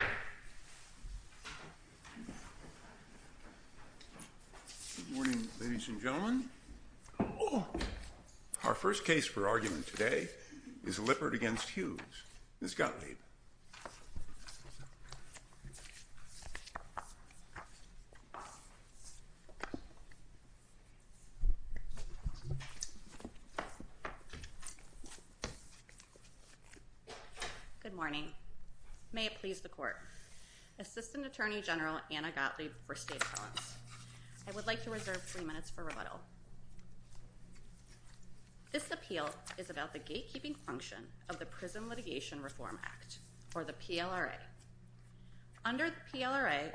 Good morning, ladies and gentlemen. Our first case for argument today is Lippert v. Hughes, Ms. Gottlieb. Good morning. May it please the court. Assistant Attorney General Anna Gottlieb for State Appellants. I would like to reserve three minutes for rebuttal. This appeal is about the gatekeeping function of the Prison Litigation Reform Act, or the PLRA. Under the PLRA,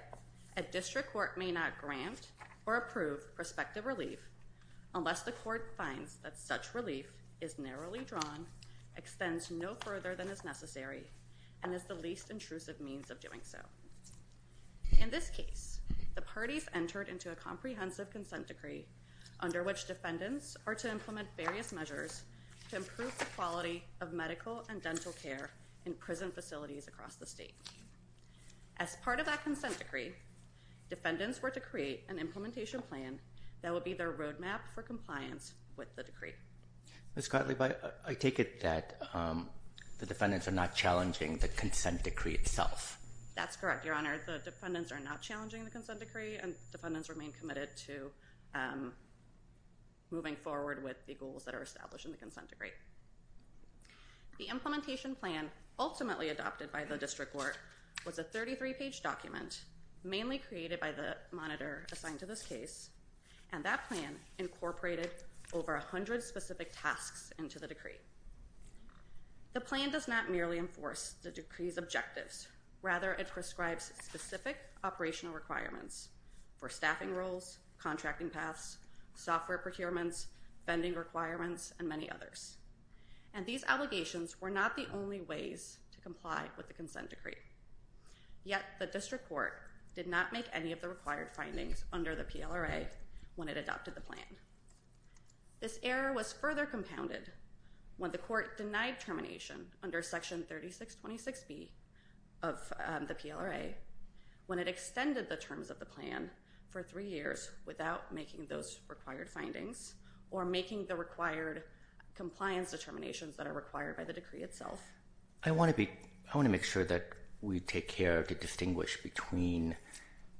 a district court may not grant or approve prospective relief unless the court finds that such relief is narrowly drawn, extends no further than is necessary, and is the least intrusive means of doing so. In this case, the parties entered into a comprehensive consent decree under which defendants are to implement various measures to improve the quality of medical and dental care in prison facilities across the state. As part of that consent decree, defendants were to create an implementation plan that will be their road map for compliance with the decree. Ms. Gottlieb, I take it that the defendants are not challenging the consent decree itself? That's correct, Your Honor. The defendants are not challenging the consent decree, and defendants remain committed to moving forward with the goals that are established in the consent decree. The implementation plan ultimately adopted by the district court was a 33-page document mainly created by the monitor assigned to this case, and that plan incorporated over 100 specific tasks into the decree. The plan does not merely enforce the decree's objectives. Rather, it prescribes specific operational requirements for staffing roles, contracting paths, software procurements, vending requirements, and many others. And these allegations were not the only ways to comply with the consent decree. Yet, the district court did not make any of the required findings under the PLRA when it adopted the plan. This error was further compounded when the court denied termination under Section 3626B of the PLRA when it extended the terms of the plan for three years without making those required findings or making the required compliance determinations that are required by the decree itself. I want to make sure that we take care to distinguish between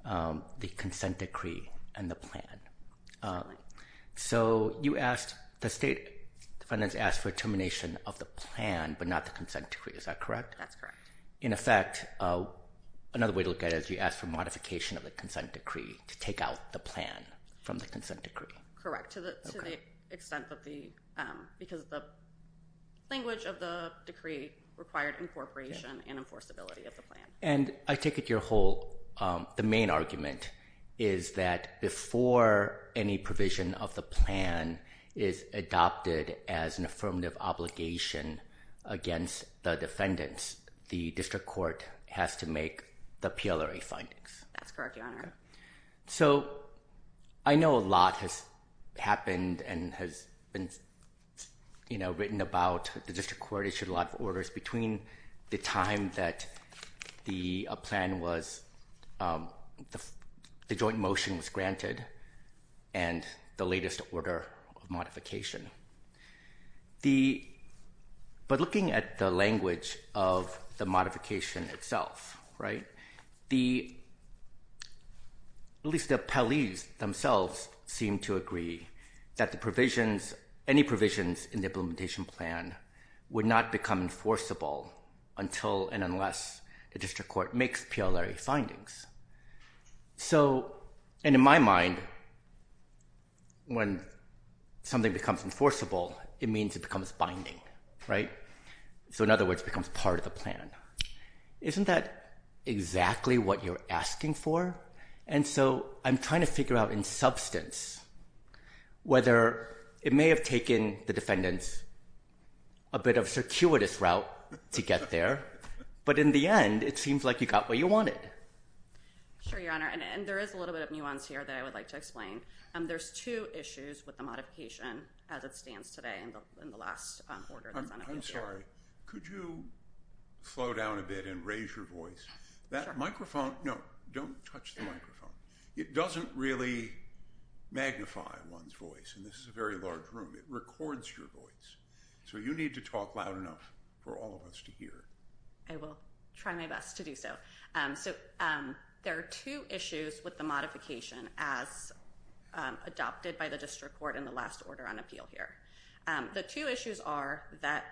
the consent decree and the plan. So you asked, the state defendants asked for termination of the plan, but not the consent decree. Is that correct? That's correct. In effect, another way to look at it is you asked for modification of the consent decree to take out the plan from the consent decree. Correct. To the extent of the, because the language of the decree required incorporation and enforceability of the plan. And I take it your whole, the main argument is that before any provision of the plan is adopted as an affirmative obligation against the defendants, the district court has to make the PLRA findings. That's correct, Your Honor. So I know a lot has happened and has been, you know, written about the district court issued a lot of orders between the time that the plan was, the joint motion was granted and the latest order of modification. The, but looking at the language of the modification itself, right, the, at least the appellees themselves seem to agree that the provisions, any provisions in the implementation plan would not become enforceable until and unless the district court makes PLRA findings. So, and in my mind, when something becomes enforceable, it means it becomes binding, right? So in other words, it becomes part of the plan. Isn't that exactly what you're asking for? And so I'm trying to figure out in substance whether it may have taken the defendants a bit of a circuitous route to get there, but in the end, it seems like you got what you wanted. Sure, Your Honor. And there is a little bit of nuance here that I would like to explain. There's two issues with the modification as it stands today in the last order that's on I'm sorry. Could you slow down a bit and raise your voice? That microphone, no, don't touch the microphone. It doesn't really magnify one's voice and this is a very large room, it records your So you need to talk loud enough for all of us to hear. I will try my best to do so. So there are two issues with the modification as adopted by the district court in the last order on appeal here. The two issues are that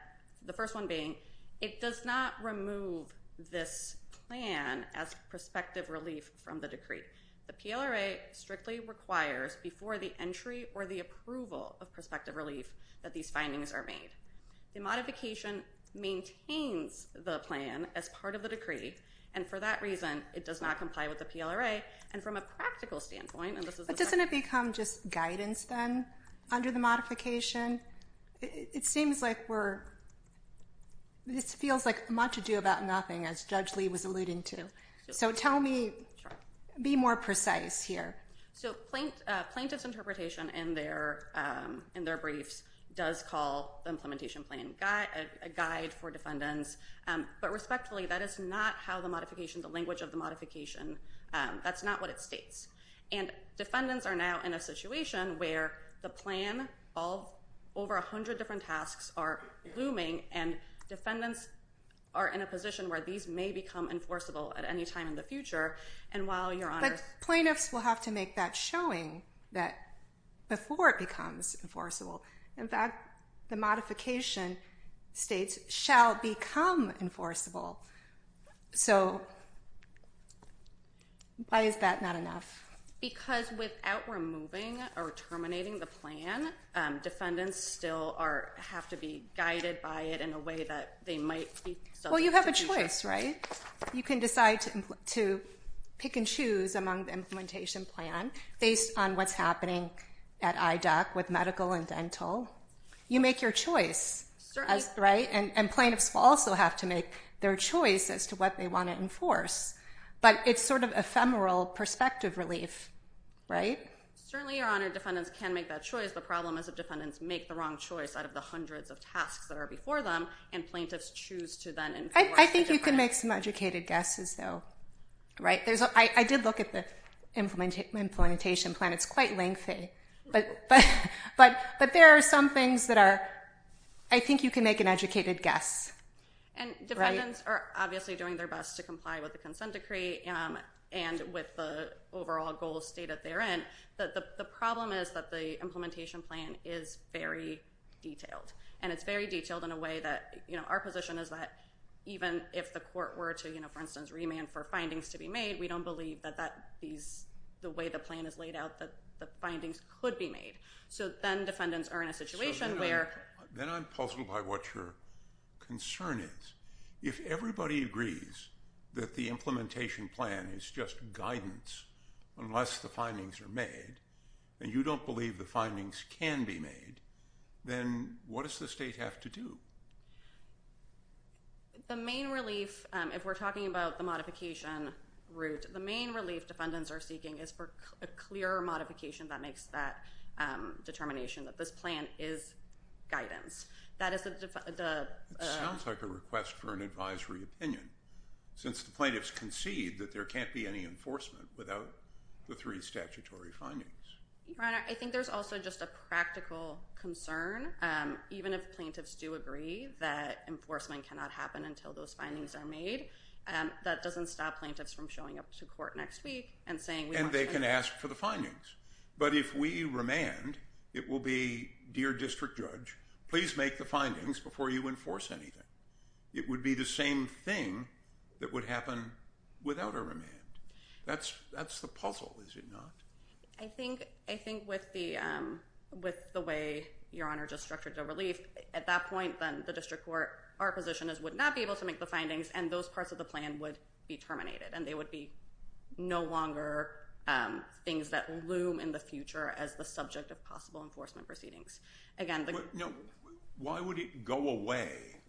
the first one being it does not remove this plan as prospective relief from the decree. The PLRA strictly requires before the entry or the approval of prospective relief that these findings are made. The modification maintains the plan as part of the decree and for that reason, it does not comply with the PLRA and from a practical standpoint, and this is a But doesn't it become just guidance then under the modification? It seems like we're, this feels like much ado about nothing as Judge Lee was alluding to. So tell me, be more precise here. So plaintiff's interpretation in their briefs does call the implementation plan a guide for defendants, but respectfully, that is not how the modification, the language of the modification, that's not what it states. And defendants are now in a situation where the plan, all over a hundred different tasks are looming and defendants are in a position where these may become enforceable at any time in the future. But plaintiffs will have to make that showing that before it becomes enforceable, in fact, the modification states shall become enforceable. So why is that not enough? Because without removing or terminating the plan, defendants still are, have to be guided by it in a way that they might be subject to future. Well, you have a choice, right? You can decide to pick and choose among the implementation plan based on what's happening at IDOC with medical and dental. You make your choice, right? And plaintiffs will also have to make their choice as to what they want to enforce. But it's sort of ephemeral perspective relief, right? Certainly, Your Honor, defendants can make that choice. The problem is if defendants make the wrong choice out of the hundreds of tasks that are before them and plaintiffs choose to then enforce the different- I think you can make some educated guesses though, right? I did look at the implementation plan. It's quite lengthy. But there are some things that are, I think you can make an educated guess, right? And defendants are obviously doing their best to comply with the consent decree and with the overall goals stated therein, but the problem is that the implementation plan is very detailed. And it's very detailed in a way that, you know, our position is that even if the court were to, you know, for instance, remand for findings to be made, we don't believe that that these- the way the plan is laid out that the findings could be made. So then defendants are in a situation where- So then I'm puzzled by what your concern is. If everybody agrees that the implementation plan is just guidance unless the findings are made and you don't believe the findings can be made, then what does the state have to do? The main relief, if we're talking about the modification route, the main relief defendants are seeking is for a clear modification that makes that determination that this plan is guidance. That is the- It sounds like a request for an advisory opinion since the plaintiffs concede that there can't be any enforcement without the three statutory findings. Your Honor, I think there's also just a practical concern, even if plaintiffs do agree that enforcement cannot happen until those findings are made, that doesn't stop plaintiffs from showing up to court next week and saying we want to- And they can ask for the findings. But if we remand, it will be, dear district judge, please make the findings before you enforce anything. It would be the same thing that would happen without a remand. That's the puzzle, is it not? I think with the way your Honor just structured the relief, at that point then the district court, our position is would not be able to make the findings and those parts of the plan would be terminated and they would be no longer things that loom in the future as the subject of possible enforcement proceedings. Again, the- No, why would it go away,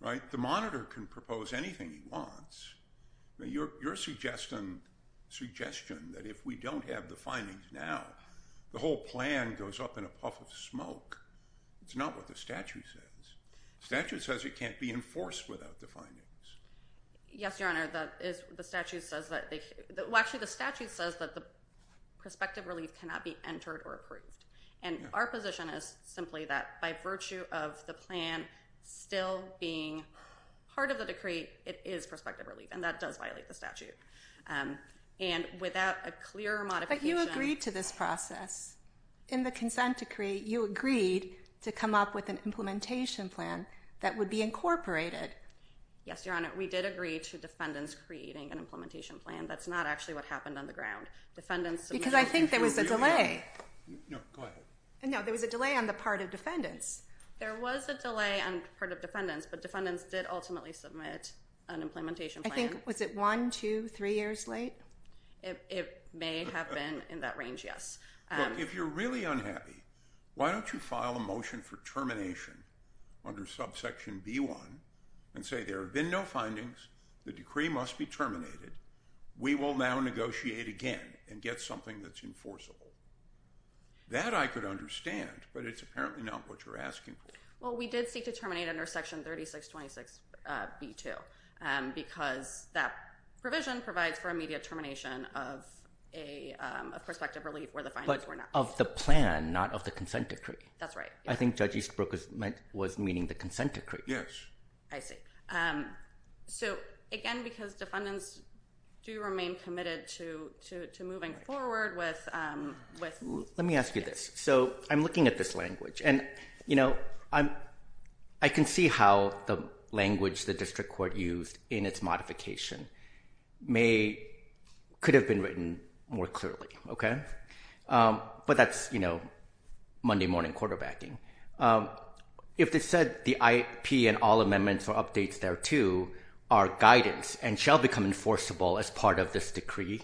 right? The monitor can propose anything he wants. Your suggestion that if we don't have the findings now, the whole plan goes up in a puff of smoke, it's not what the statute says. Statute says it can't be enforced without the findings. Yes, Your Honor, the statute says that the- well, actually the statute says that the prospective relief cannot be entered or approved. And our position is simply that by virtue of the plan still being part of the decree, it is prospective relief and that does violate the statute. And without a clear modification- But you agreed to this process. In the consent decree, you agreed to come up with an implementation plan that would be incorporated. Yes, Your Honor, we did agree to defendants creating an implementation plan. That's not actually what happened on the ground. Defendants- Because I think there was a delay. No, go ahead. No, there was a delay on the part of defendants. There was a delay on part of defendants, but defendants did ultimately submit an implementation plan. I think, was it one, two, three years late? It may have been in that range, yes. Look, if you're really unhappy, why don't you file a motion for termination under subsection B1 and say there have been no findings, the decree must be terminated, we will now negotiate again and get something that's enforceable. That I could understand, but it's apparently not what you're asking for. Well, we did seek to terminate under section 3626B2 because that provision provides for immediate termination of prospective relief where the findings were not- Of the plan, not of the consent decree. That's right. I think Judge Eastbrook was meaning the consent decree. Yes. I see. So, again, because defendants do remain committed to moving forward with- Let me ask you this. So, I'm looking at this language and I can see how the language the district court used in its modification could have been written more clearly, okay? But that's Monday morning quarterbacking. If they said the IP and all amendments or updates thereto are guidance and shall become enforceable as part of this decree,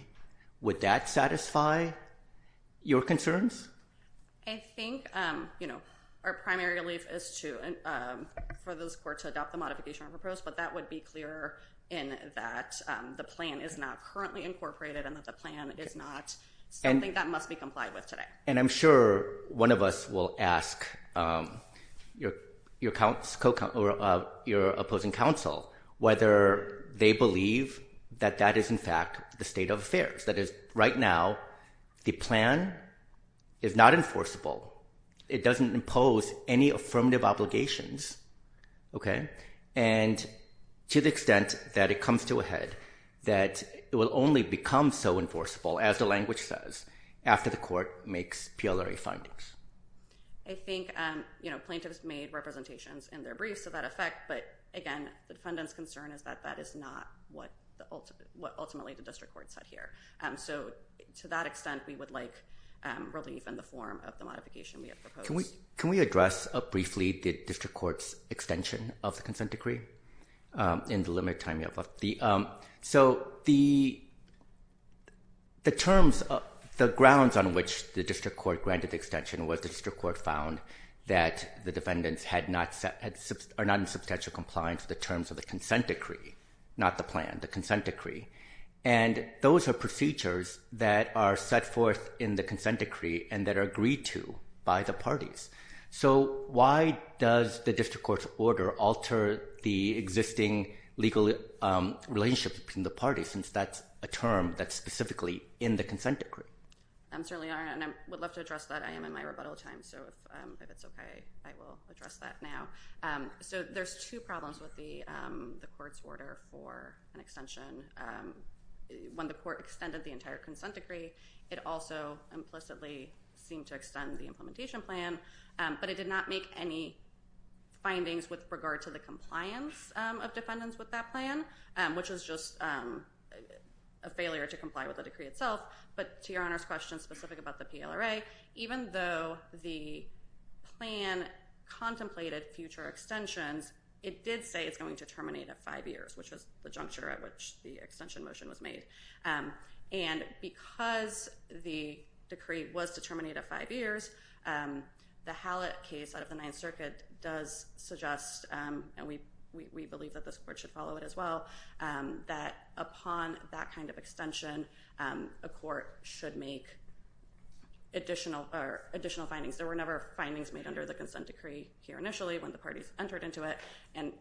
would that satisfy your concerns? I think our primary relief is for this court to adopt the modification of the proposal, but that would be clearer in that the plan is not currently incorporated and that the plan is not something that must be complied with today. And I'm sure one of us will ask your opposing counsel whether they believe that that is in fact the state of affairs. That is, right now, the plan is not enforceable. It doesn't impose any affirmative obligations, okay? And to the extent that it comes to a head, that it will only become so enforceable, as the language says, after the court makes PLRA findings. I think, you know, plaintiffs made representations in their briefs of that effect, but again, the defendant's concern is that that is not what ultimately the district court said here. So to that extent, we would like relief in the form of the modification we have proposed. Can we address briefly the district court's extension of the consent decree in the limited time you have left? So the grounds on which the district court granted the extension was the district court found that the defendants are not in substantial compliance with the terms of the consent decree, not the plan, the consent decree. And those are procedures that are set forth in the consent decree and that are agreed to by the parties. So why does the district court's order alter the existing legal relationship between the parties, since that's a term that's specifically in the consent decree? I'm certainly honored, and I would love to address that. I am in my rebuttal time, so if it's okay, I will address that now. So there's two problems with the court's order for an extension. When the court extended the entire consent decree, it also implicitly seemed to extend the implementation plan, but it did not make any findings with regard to the compliance of defendants with that plan, which is just a failure to comply with the decree itself. But to Your Honor's question specific about the PLRA, even though the plan contemplated future extensions, it did say it's going to terminate at five years, which was the juncture at which the extension motion was made. And because the decree was to terminate at five years, the Hallett case out of the Ninth Circuit does suggest, and we believe that this court should follow it as well, that upon that kind of extension, a court should make additional findings. There were never findings made under the consent decree here initially when the parties entered into it, and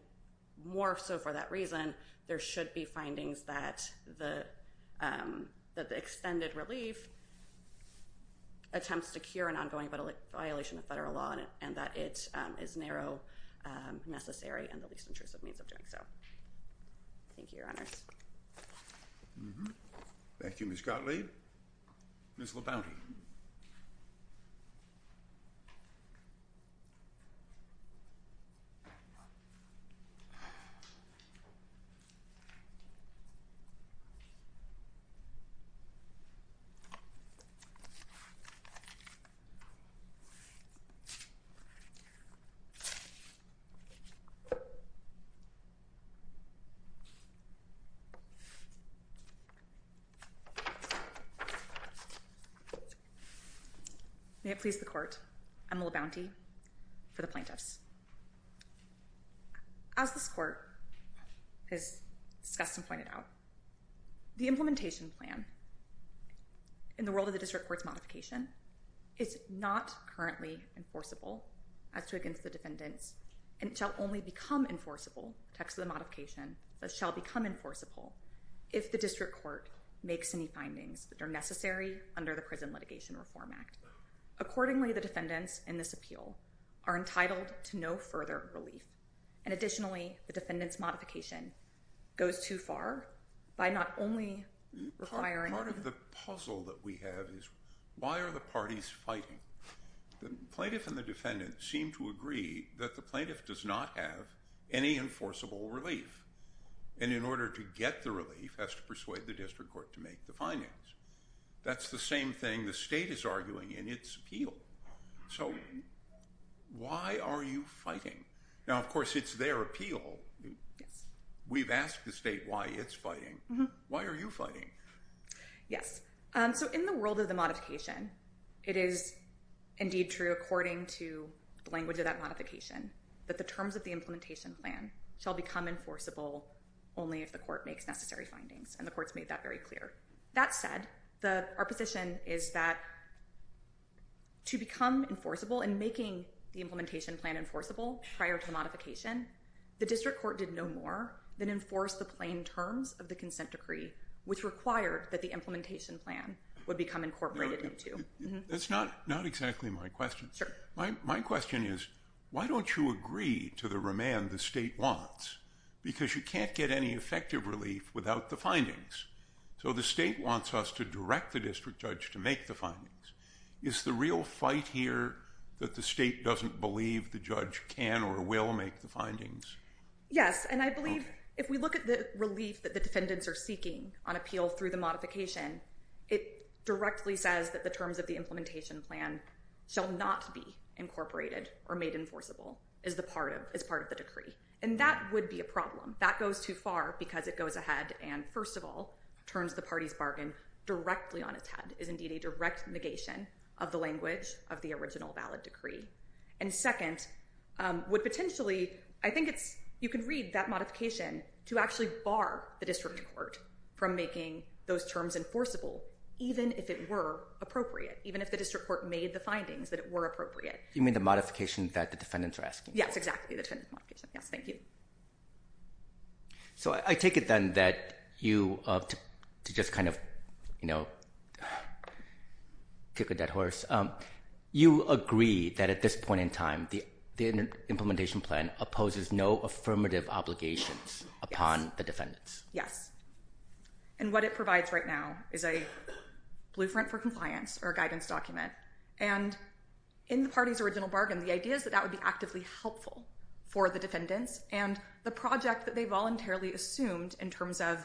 more so for that reason, there should be findings that the extended relief attempts to cure an ongoing violation of federal law, and that it is narrow, necessary, and the least intrusive means of doing so. Thank you, Your Honors. Thank you, Ms. Gottlieb. Ms. Labonte. May it please the court. I'm LaBonte for the plaintiffs. As this court has discussed and pointed out, the implementation plan in the world of the district court's modification is not currently enforceable as to against the defendants, and it shall only become enforceable, text of the modification, thus shall become enforceable if the district court makes any findings that are necessary under the Prison Litigation Reform Act. Accordingly, the defendants in this appeal are entitled to no further relief, and additionally, the defendant's modification goes too far by not only requiring... Part of the puzzle that we have is why are the parties fighting? The plaintiff and the defendant seem to agree that the plaintiff does not have any enforceable relief, and in order to get the relief, has to persuade the district court to make the findings. That's the same thing the state is arguing in its appeal. So why are you fighting? Now, of course, it's their appeal. We've asked the state why it's fighting. Why are you fighting? Yes. So in the world of the modification, it is indeed true according to the language of that modification that the terms of the implementation plan shall become enforceable only if the court makes necessary findings, and the court's made that very clear. That said, our position is that to become enforceable and making the implementation plan enforceable prior to the modification, the district court did no more than enforce the plain terms of the consent decree, which required that the implementation plan would become incorporated into. That's not exactly my question. My question is, why don't you agree to the remand the state wants? Because you can't get any effective relief without the findings. So the state wants us to direct the district judge to make the findings. Is the real fight here that the state doesn't believe the judge can or will make the findings? Yes, and I believe if we look at the relief that the defendants are seeking on appeal through the modification, it directly says that the terms of the implementation plan shall not be incorporated or made enforceable as part of the decree. And that would be a problem. That goes too far because it goes ahead and, first of all, turns the party's bargain directly on its head, is indeed a direct negation of the language of the original valid decree. And second, would potentially, I think it's, you can read that modification to actually bar the district court from making those terms enforceable, even if it were appropriate, even if the district court made the findings that it were appropriate. You mean the modification that the defendants are asking for? Yes, exactly, the defendant modification. Yes, thank you. So I take it then that you, to just kind of, you know, kick a dead horse, you agree that at this point in time the implementation plan opposes no affirmative obligations upon the defendants? Yes. And what it provides right now is a blueprint for compliance or a guidance document. And in the party's original bargain, the idea is that that would be actively helpful for the defendants and the project that they voluntarily assumed in terms of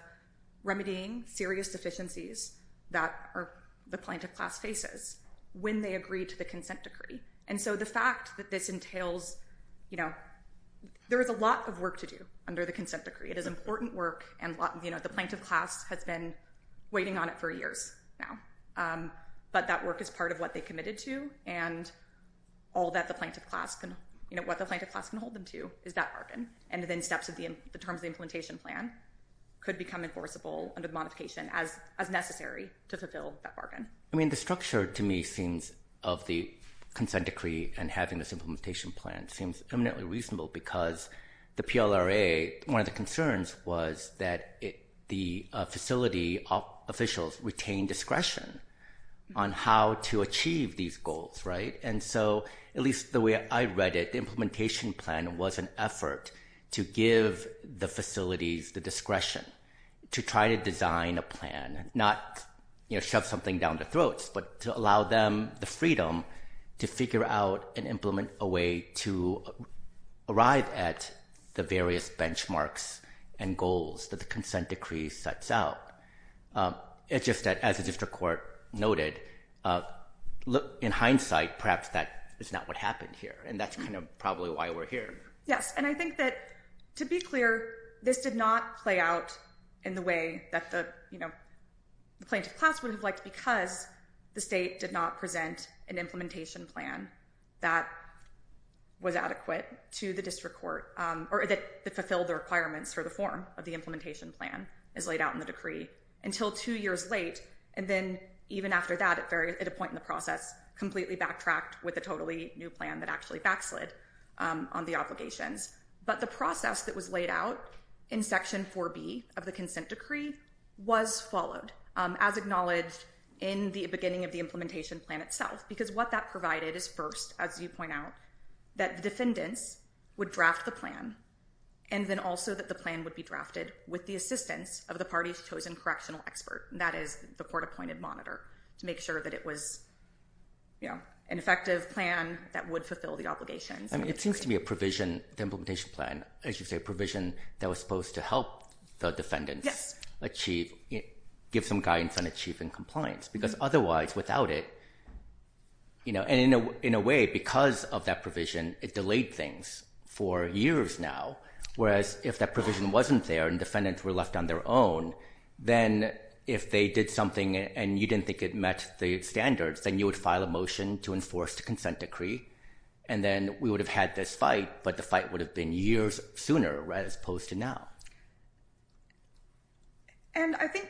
remedying serious deficiencies that the plaintiff class faces when they agree to the consent decree. And so the fact that this entails, you know, there is a lot of work to do under the consent decree. It is important work and, you know, the plaintiff class has been waiting on it for years now. But that work is part of what they committed to and all that the plaintiff class, you know, what the plaintiff class can hold them to is that bargain. And then steps of the terms of the implementation plan could become enforceable under the modification as necessary to fulfill that bargain. I mean, the structure to me seems of the consent decree and having this implementation plan seems eminently reasonable because the PLRA, one of the concerns was that the facility officials retain discretion on how to achieve these goals, right? And so at least the way I read it, the implementation plan was an effort to give the facilities the discretion to try to design a plan, not, you know, shove something down their throats, but to allow them the freedom to figure out and implement a way to arrive at the various benchmarks and goals that the consent decree sets out. It's just that, as the district court noted, in hindsight, perhaps that is not what happened here. And that's kind of probably why we're here. Yes, and I think that, to be clear, this did not play out in the way that the, you know, the plaintiff class would have liked because the state did not present an implementation plan that was adequate to the district court or that fulfilled the requirements for the form of the implementation plan as laid out in the decree until two years late. And then even after that, at a point in the process, completely backtracked with a totally new plan that actually backslid on the obligations. But the process that was laid out in Section 4B of the consent decree was followed, as acknowledged in the beginning of the implementation plan itself, because what that provided is first, as you point out, that the defendants would draft the plan and then also that the plan would be drafted with the assistance of the party's chosen correctional expert, and that is the court-appointed monitor, to make sure that it was, you know, an effective plan that would fulfill the obligations. It seems to me a provision, the implementation plan, as you say, a provision that was supposed to help the defendants achieve, give some guidance on achieving compliance. Because otherwise, without it, you know, and in a way because of that provision, it delayed things for years now. Whereas if that provision wasn't there and defendants were left on their own, then if they did something and you didn't think it met the standards, then you would file a motion to enforce the consent decree, and then we would have had this fight, but the fight would have been years sooner as opposed to now. And I think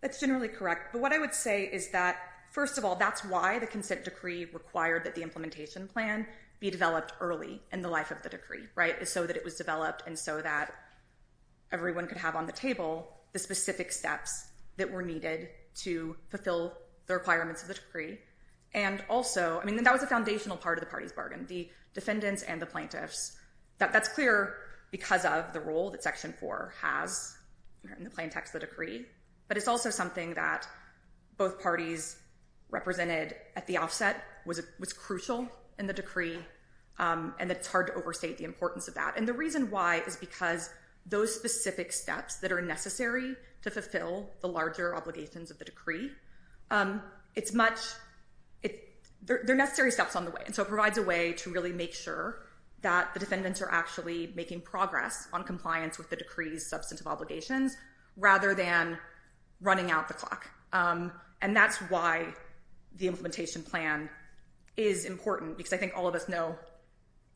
that's generally correct. But what I would say is that, first of all, that's why the consent decree required that the implementation plan be developed early in the life of the decree, right, so that it was developed and so that everyone could have on the table the specific steps that were needed to fulfill the requirements of the decree. And also, I mean, that was a foundational part of the party's bargain, the defendants and the plaintiffs. That's clear because of the role that Section 4 has in the plaintext of the decree, but it's also something that both parties represented at the offset was crucial in the decree, and it's hard to overstate the importance of that. And the reason why is because those specific steps that are necessary to fulfill the larger obligations of the decree, it's much – they're necessary steps on the way. And so it provides a way to really make sure that the defendants are actually making progress on compliance with the decree's substantive obligations rather than running out the clock. And that's why the implementation plan is important because I think all of us know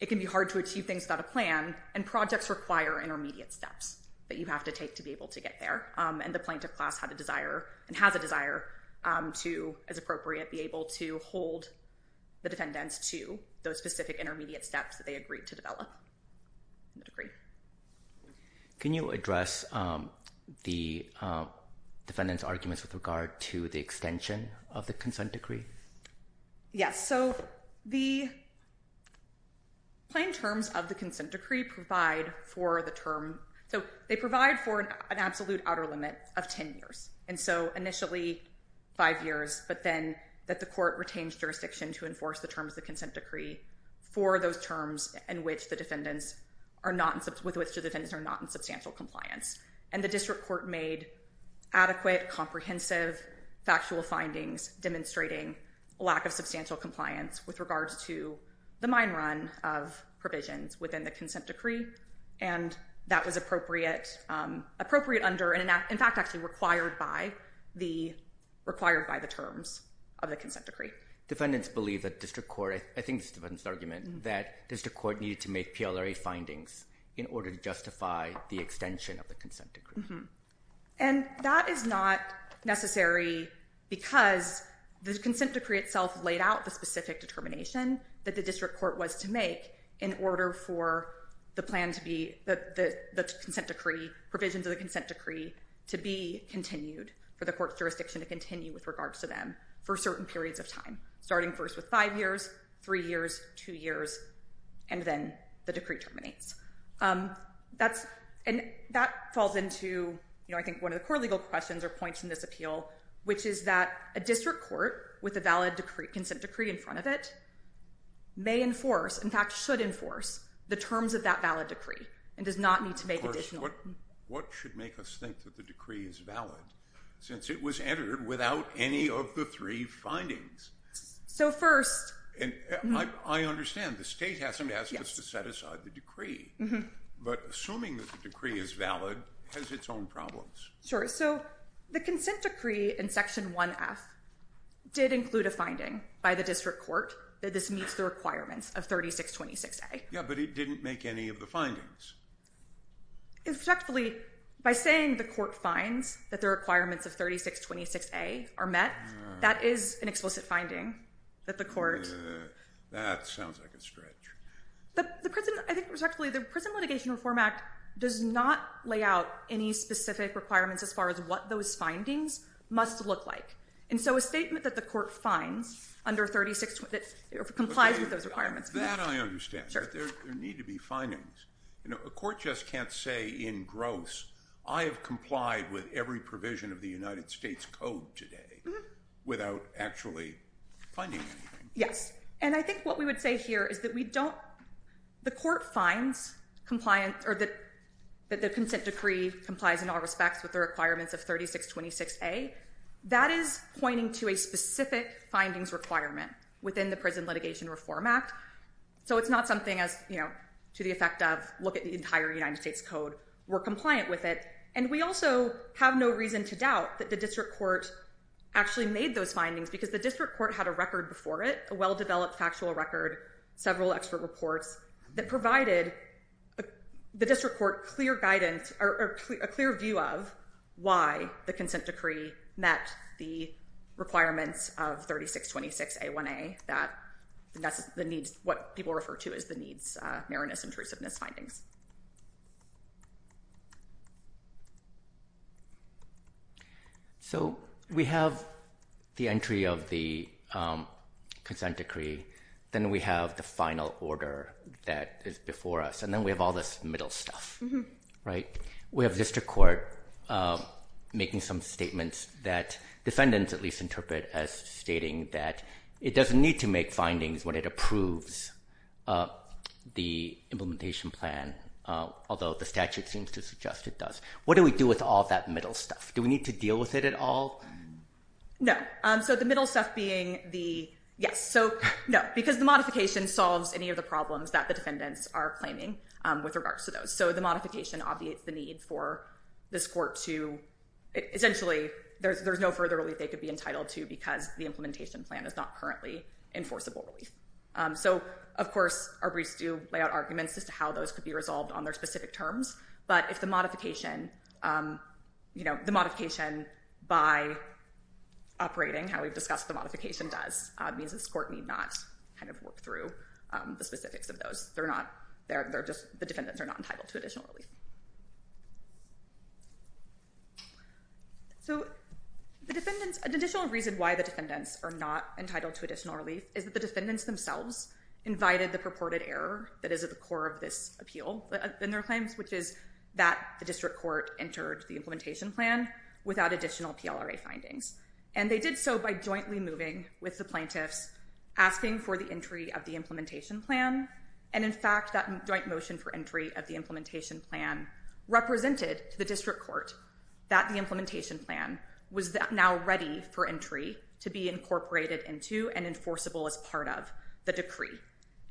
it can be hard to achieve things without a plan, and projects require intermediate steps that you have to take to be able to get there. And the plaintiff class had a desire and has a desire to, as appropriate, be able to hold the defendants to those specific intermediate steps that they agreed to develop in the decree. Can you address the defendants' arguments with regard to the extension of the consent decree? Yes. So the plain terms of the consent decree provide for the term – so they provide for an absolute outer limit of 10 years. And so initially five years, but then that the court retains jurisdiction to enforce the terms of the consent decree for those terms with which the defendants are not in substantial compliance. And the district court made adequate, comprehensive, factual findings demonstrating lack of substantial compliance with regards to the mine run of provisions within the consent decree. And that was appropriate under – in fact, actually required by the terms of the consent decree. Defendants believe that district court – I think it's the defendant's argument that district court needed to make PLRA findings in order to justify the extension of the consent decree. And that is not necessary because the consent decree itself laid out the specific determination that the district court was to make in order for the plan to be – the consent decree, provisions of the consent decree to be continued, for the court's jurisdiction to continue with regards to them for certain periods of time, starting first with five years, three years, two years, and then the decree terminates. That's – and that falls into, you know, I think one of the core legal questions or points in this appeal, which is that a district court with a valid consent decree in front of it may enforce – in fact, should enforce the terms of that valid decree and does not need to make additional – Of course, what should make us think that the decree is valid since it was entered without any of the three findings? So first – I understand. The state hasn't asked us to set aside the decree. But assuming that the decree is valid has its own problems. Sure. So the consent decree in Section 1F did include a finding by the district court that this meets the requirements of 3626A. Yeah, but it didn't make any of the findings. Effectively, by saying the court finds that the requirements of 3626A are met, that is an explicit finding that the court – That sounds like a stretch. I think, respectfully, the Prison Litigation Reform Act does not lay out any specific requirements as far as what those findings must look like. And so a statement that the court finds under 3626A complies with those requirements. That I understand. But there need to be findings. You know, a court just can't say in gross, I have complied with every provision of the United States Code today without actually finding anything. Yes. And I think what we would say here is that we don't – the court finds that the consent decree complies in all respects with the requirements of 3626A. That is pointing to a specific findings requirement within the Prison Litigation Reform Act. So it's not something as, you know, to the effect of look at the entire United States Code. We're compliant with it. And we also have no reason to doubt that the district court actually made those findings because the district court had a record before it, a well-developed factual record, several expert reports that provided the district court clear guidance or a clear view of why the consent decree met the requirements of 3626A1A. That's what people refer to as the needs, Marinus intrusiveness findings. So we have the entry of the consent decree. Then we have the final order that is before us. And then we have all this middle stuff, right? We have district court making some statements that defendants at least interpret as stating that it doesn't need to make findings when it approves the implementation plan, although the statute seems to suggest it does. What do we do with all that middle stuff? Do we need to deal with it at all? No. So the middle stuff being the yes. So no, because the modification solves any of the problems that the defendants are claiming with regards to those. So the modification obviates the need for this court to essentially there's no further relief they could be entitled to because the implementation plan is not currently enforceable relief. So of course, our briefs do lay out arguments as to how those could be resolved on their specific terms. But if the modification by operating, how we've discussed the modification does, means this court need not work through the specifics of those. The defendants are not entitled to additional relief. So the defendants, an additional reason why the defendants are not entitled to additional relief is that the defendants themselves invited the purported error that is at the core of this appeal in their claims, which is that the district court entered the implementation plan without additional PLRA findings. And they did so by jointly moving with the plaintiffs asking for the entry of the implementation plan. And in fact, that joint motion for entry of the implementation plan represented to the district court that the implementation plan was now ready for entry to be incorporated into and enforceable as part of the decree.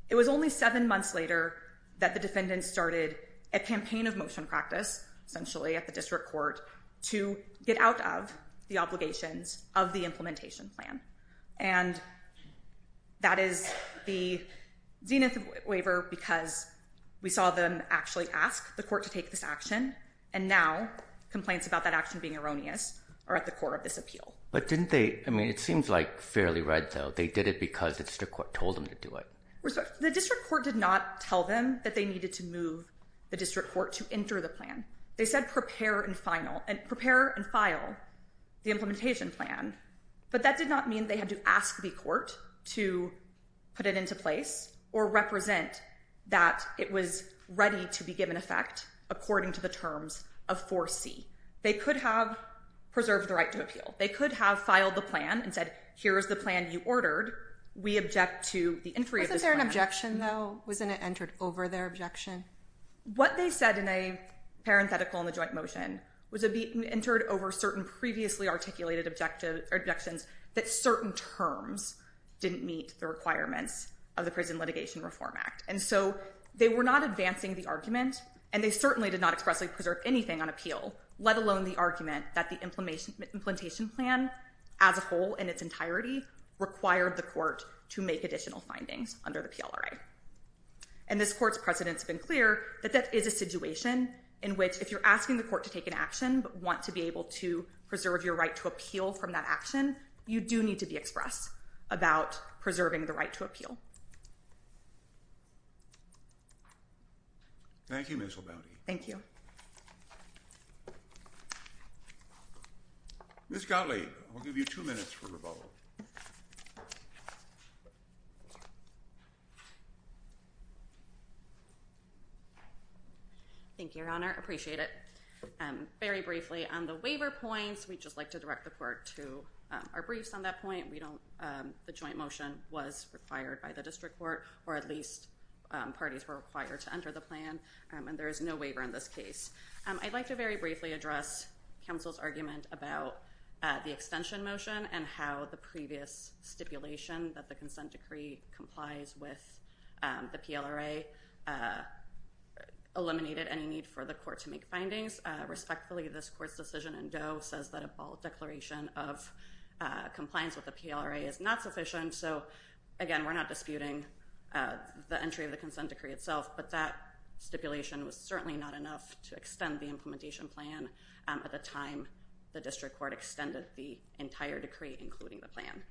It was only seven months later that the defendants started a campaign of motion practice, essentially at the district court, to get out of the obligations of the implementation plan. And that is the Zenith waiver because we saw them actually ask the court to take this action. And now complaints about that action being erroneous are at the core of this appeal. But didn't they, I mean, it seems like fairly right though. They did it because the district court told them to do it. The district court did not tell them that they needed to move the district court to enter the plan. They said prepare and file the implementation plan. But that did not mean they had to ask the court to put it into place or represent that it was ready to be given effect according to the terms of 4C. They could have preserved the right to appeal. They could have filed the plan and said, here's the plan you ordered. We object to the entry of this plan. Wasn't there an objection though? Wasn't it entered over their objection? What they said in a parenthetical in the joint motion was it entered over certain previously articulated objections that certain terms didn't meet the requirements of the Prison Litigation Reform Act. And so they were not advancing the argument and they certainly did not expressly preserve anything on appeal, let alone the argument that the implementation plan as a whole in its entirety required the court to make additional findings under the PLRA. And this court's precedent's been clear that that is a situation in which if you're asking the court to take an action but want to be able to preserve your right to appeal from that action, you do need to be expressed about preserving the right to appeal. Thank you, Ms. Labonte. Thank you. Ms. Gottlieb, I'll give you two minutes for rebuttal. Thank you. Thank you, Your Honor. Appreciate it. Very briefly on the waiver points, we'd just like to direct the court to our briefs on that point. We don't... The joint motion was required by the district court or at least parties were required to enter the plan and there is no waiver in this case. I'd like to very briefly address counsel's argument about the extension motion and how the previous stipulation that the consent decree complies with the PLRA eliminated any need for the court to make findings. Respectfully, this court's decision in Doe says that a bold declaration of compliance with the PLRA is not sufficient. So again, we're not disputing the entry of the consent decree itself, but that stipulation was certainly not enough to extend the implementation plan at the time the district court extended the entire decree, including the plan.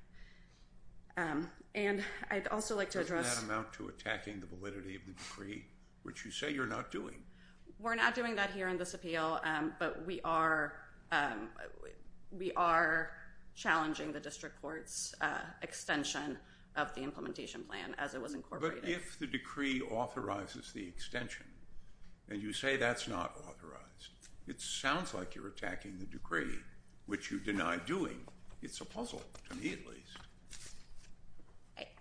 And I'd also like to address... Doesn't that amount to attacking the validity of the decree, which you say you're not doing? We're not doing that here in this appeal, but we are challenging the district court's extension of the implementation plan as it was incorporated. But if the decree authorizes the extension and you say that's not authorized, it sounds like you're attacking the decree, which you deny doing. It's a puzzle, to me at least.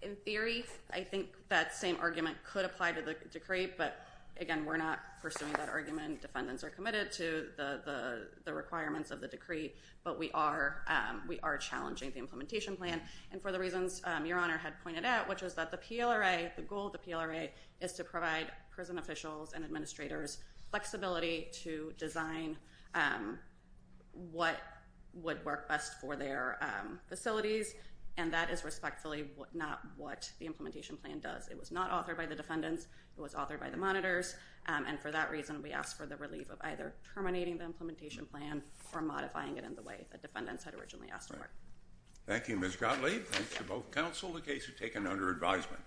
In theory, I think that same argument could apply to the decree, but again, we're not pursuing that argument. Defendants are committed to the requirements of the decree, but we are challenging the implementation plan. And for the reasons Your Honor had pointed out, which is that the PLRA, the goal of the PLRA, is to provide prison officials and administrators flexibility to design what would work best for their facilities. And that is respectfully not what the implementation plan does. It was not authored by the defendants. It was authored by the monitors. And for that reason, we ask for the relief of either terminating the implementation plan or modifying it in the way the defendants had originally asked for. Thank you, Ms. Gottlieb. Thanks to both counsel, the case is taken under advisement.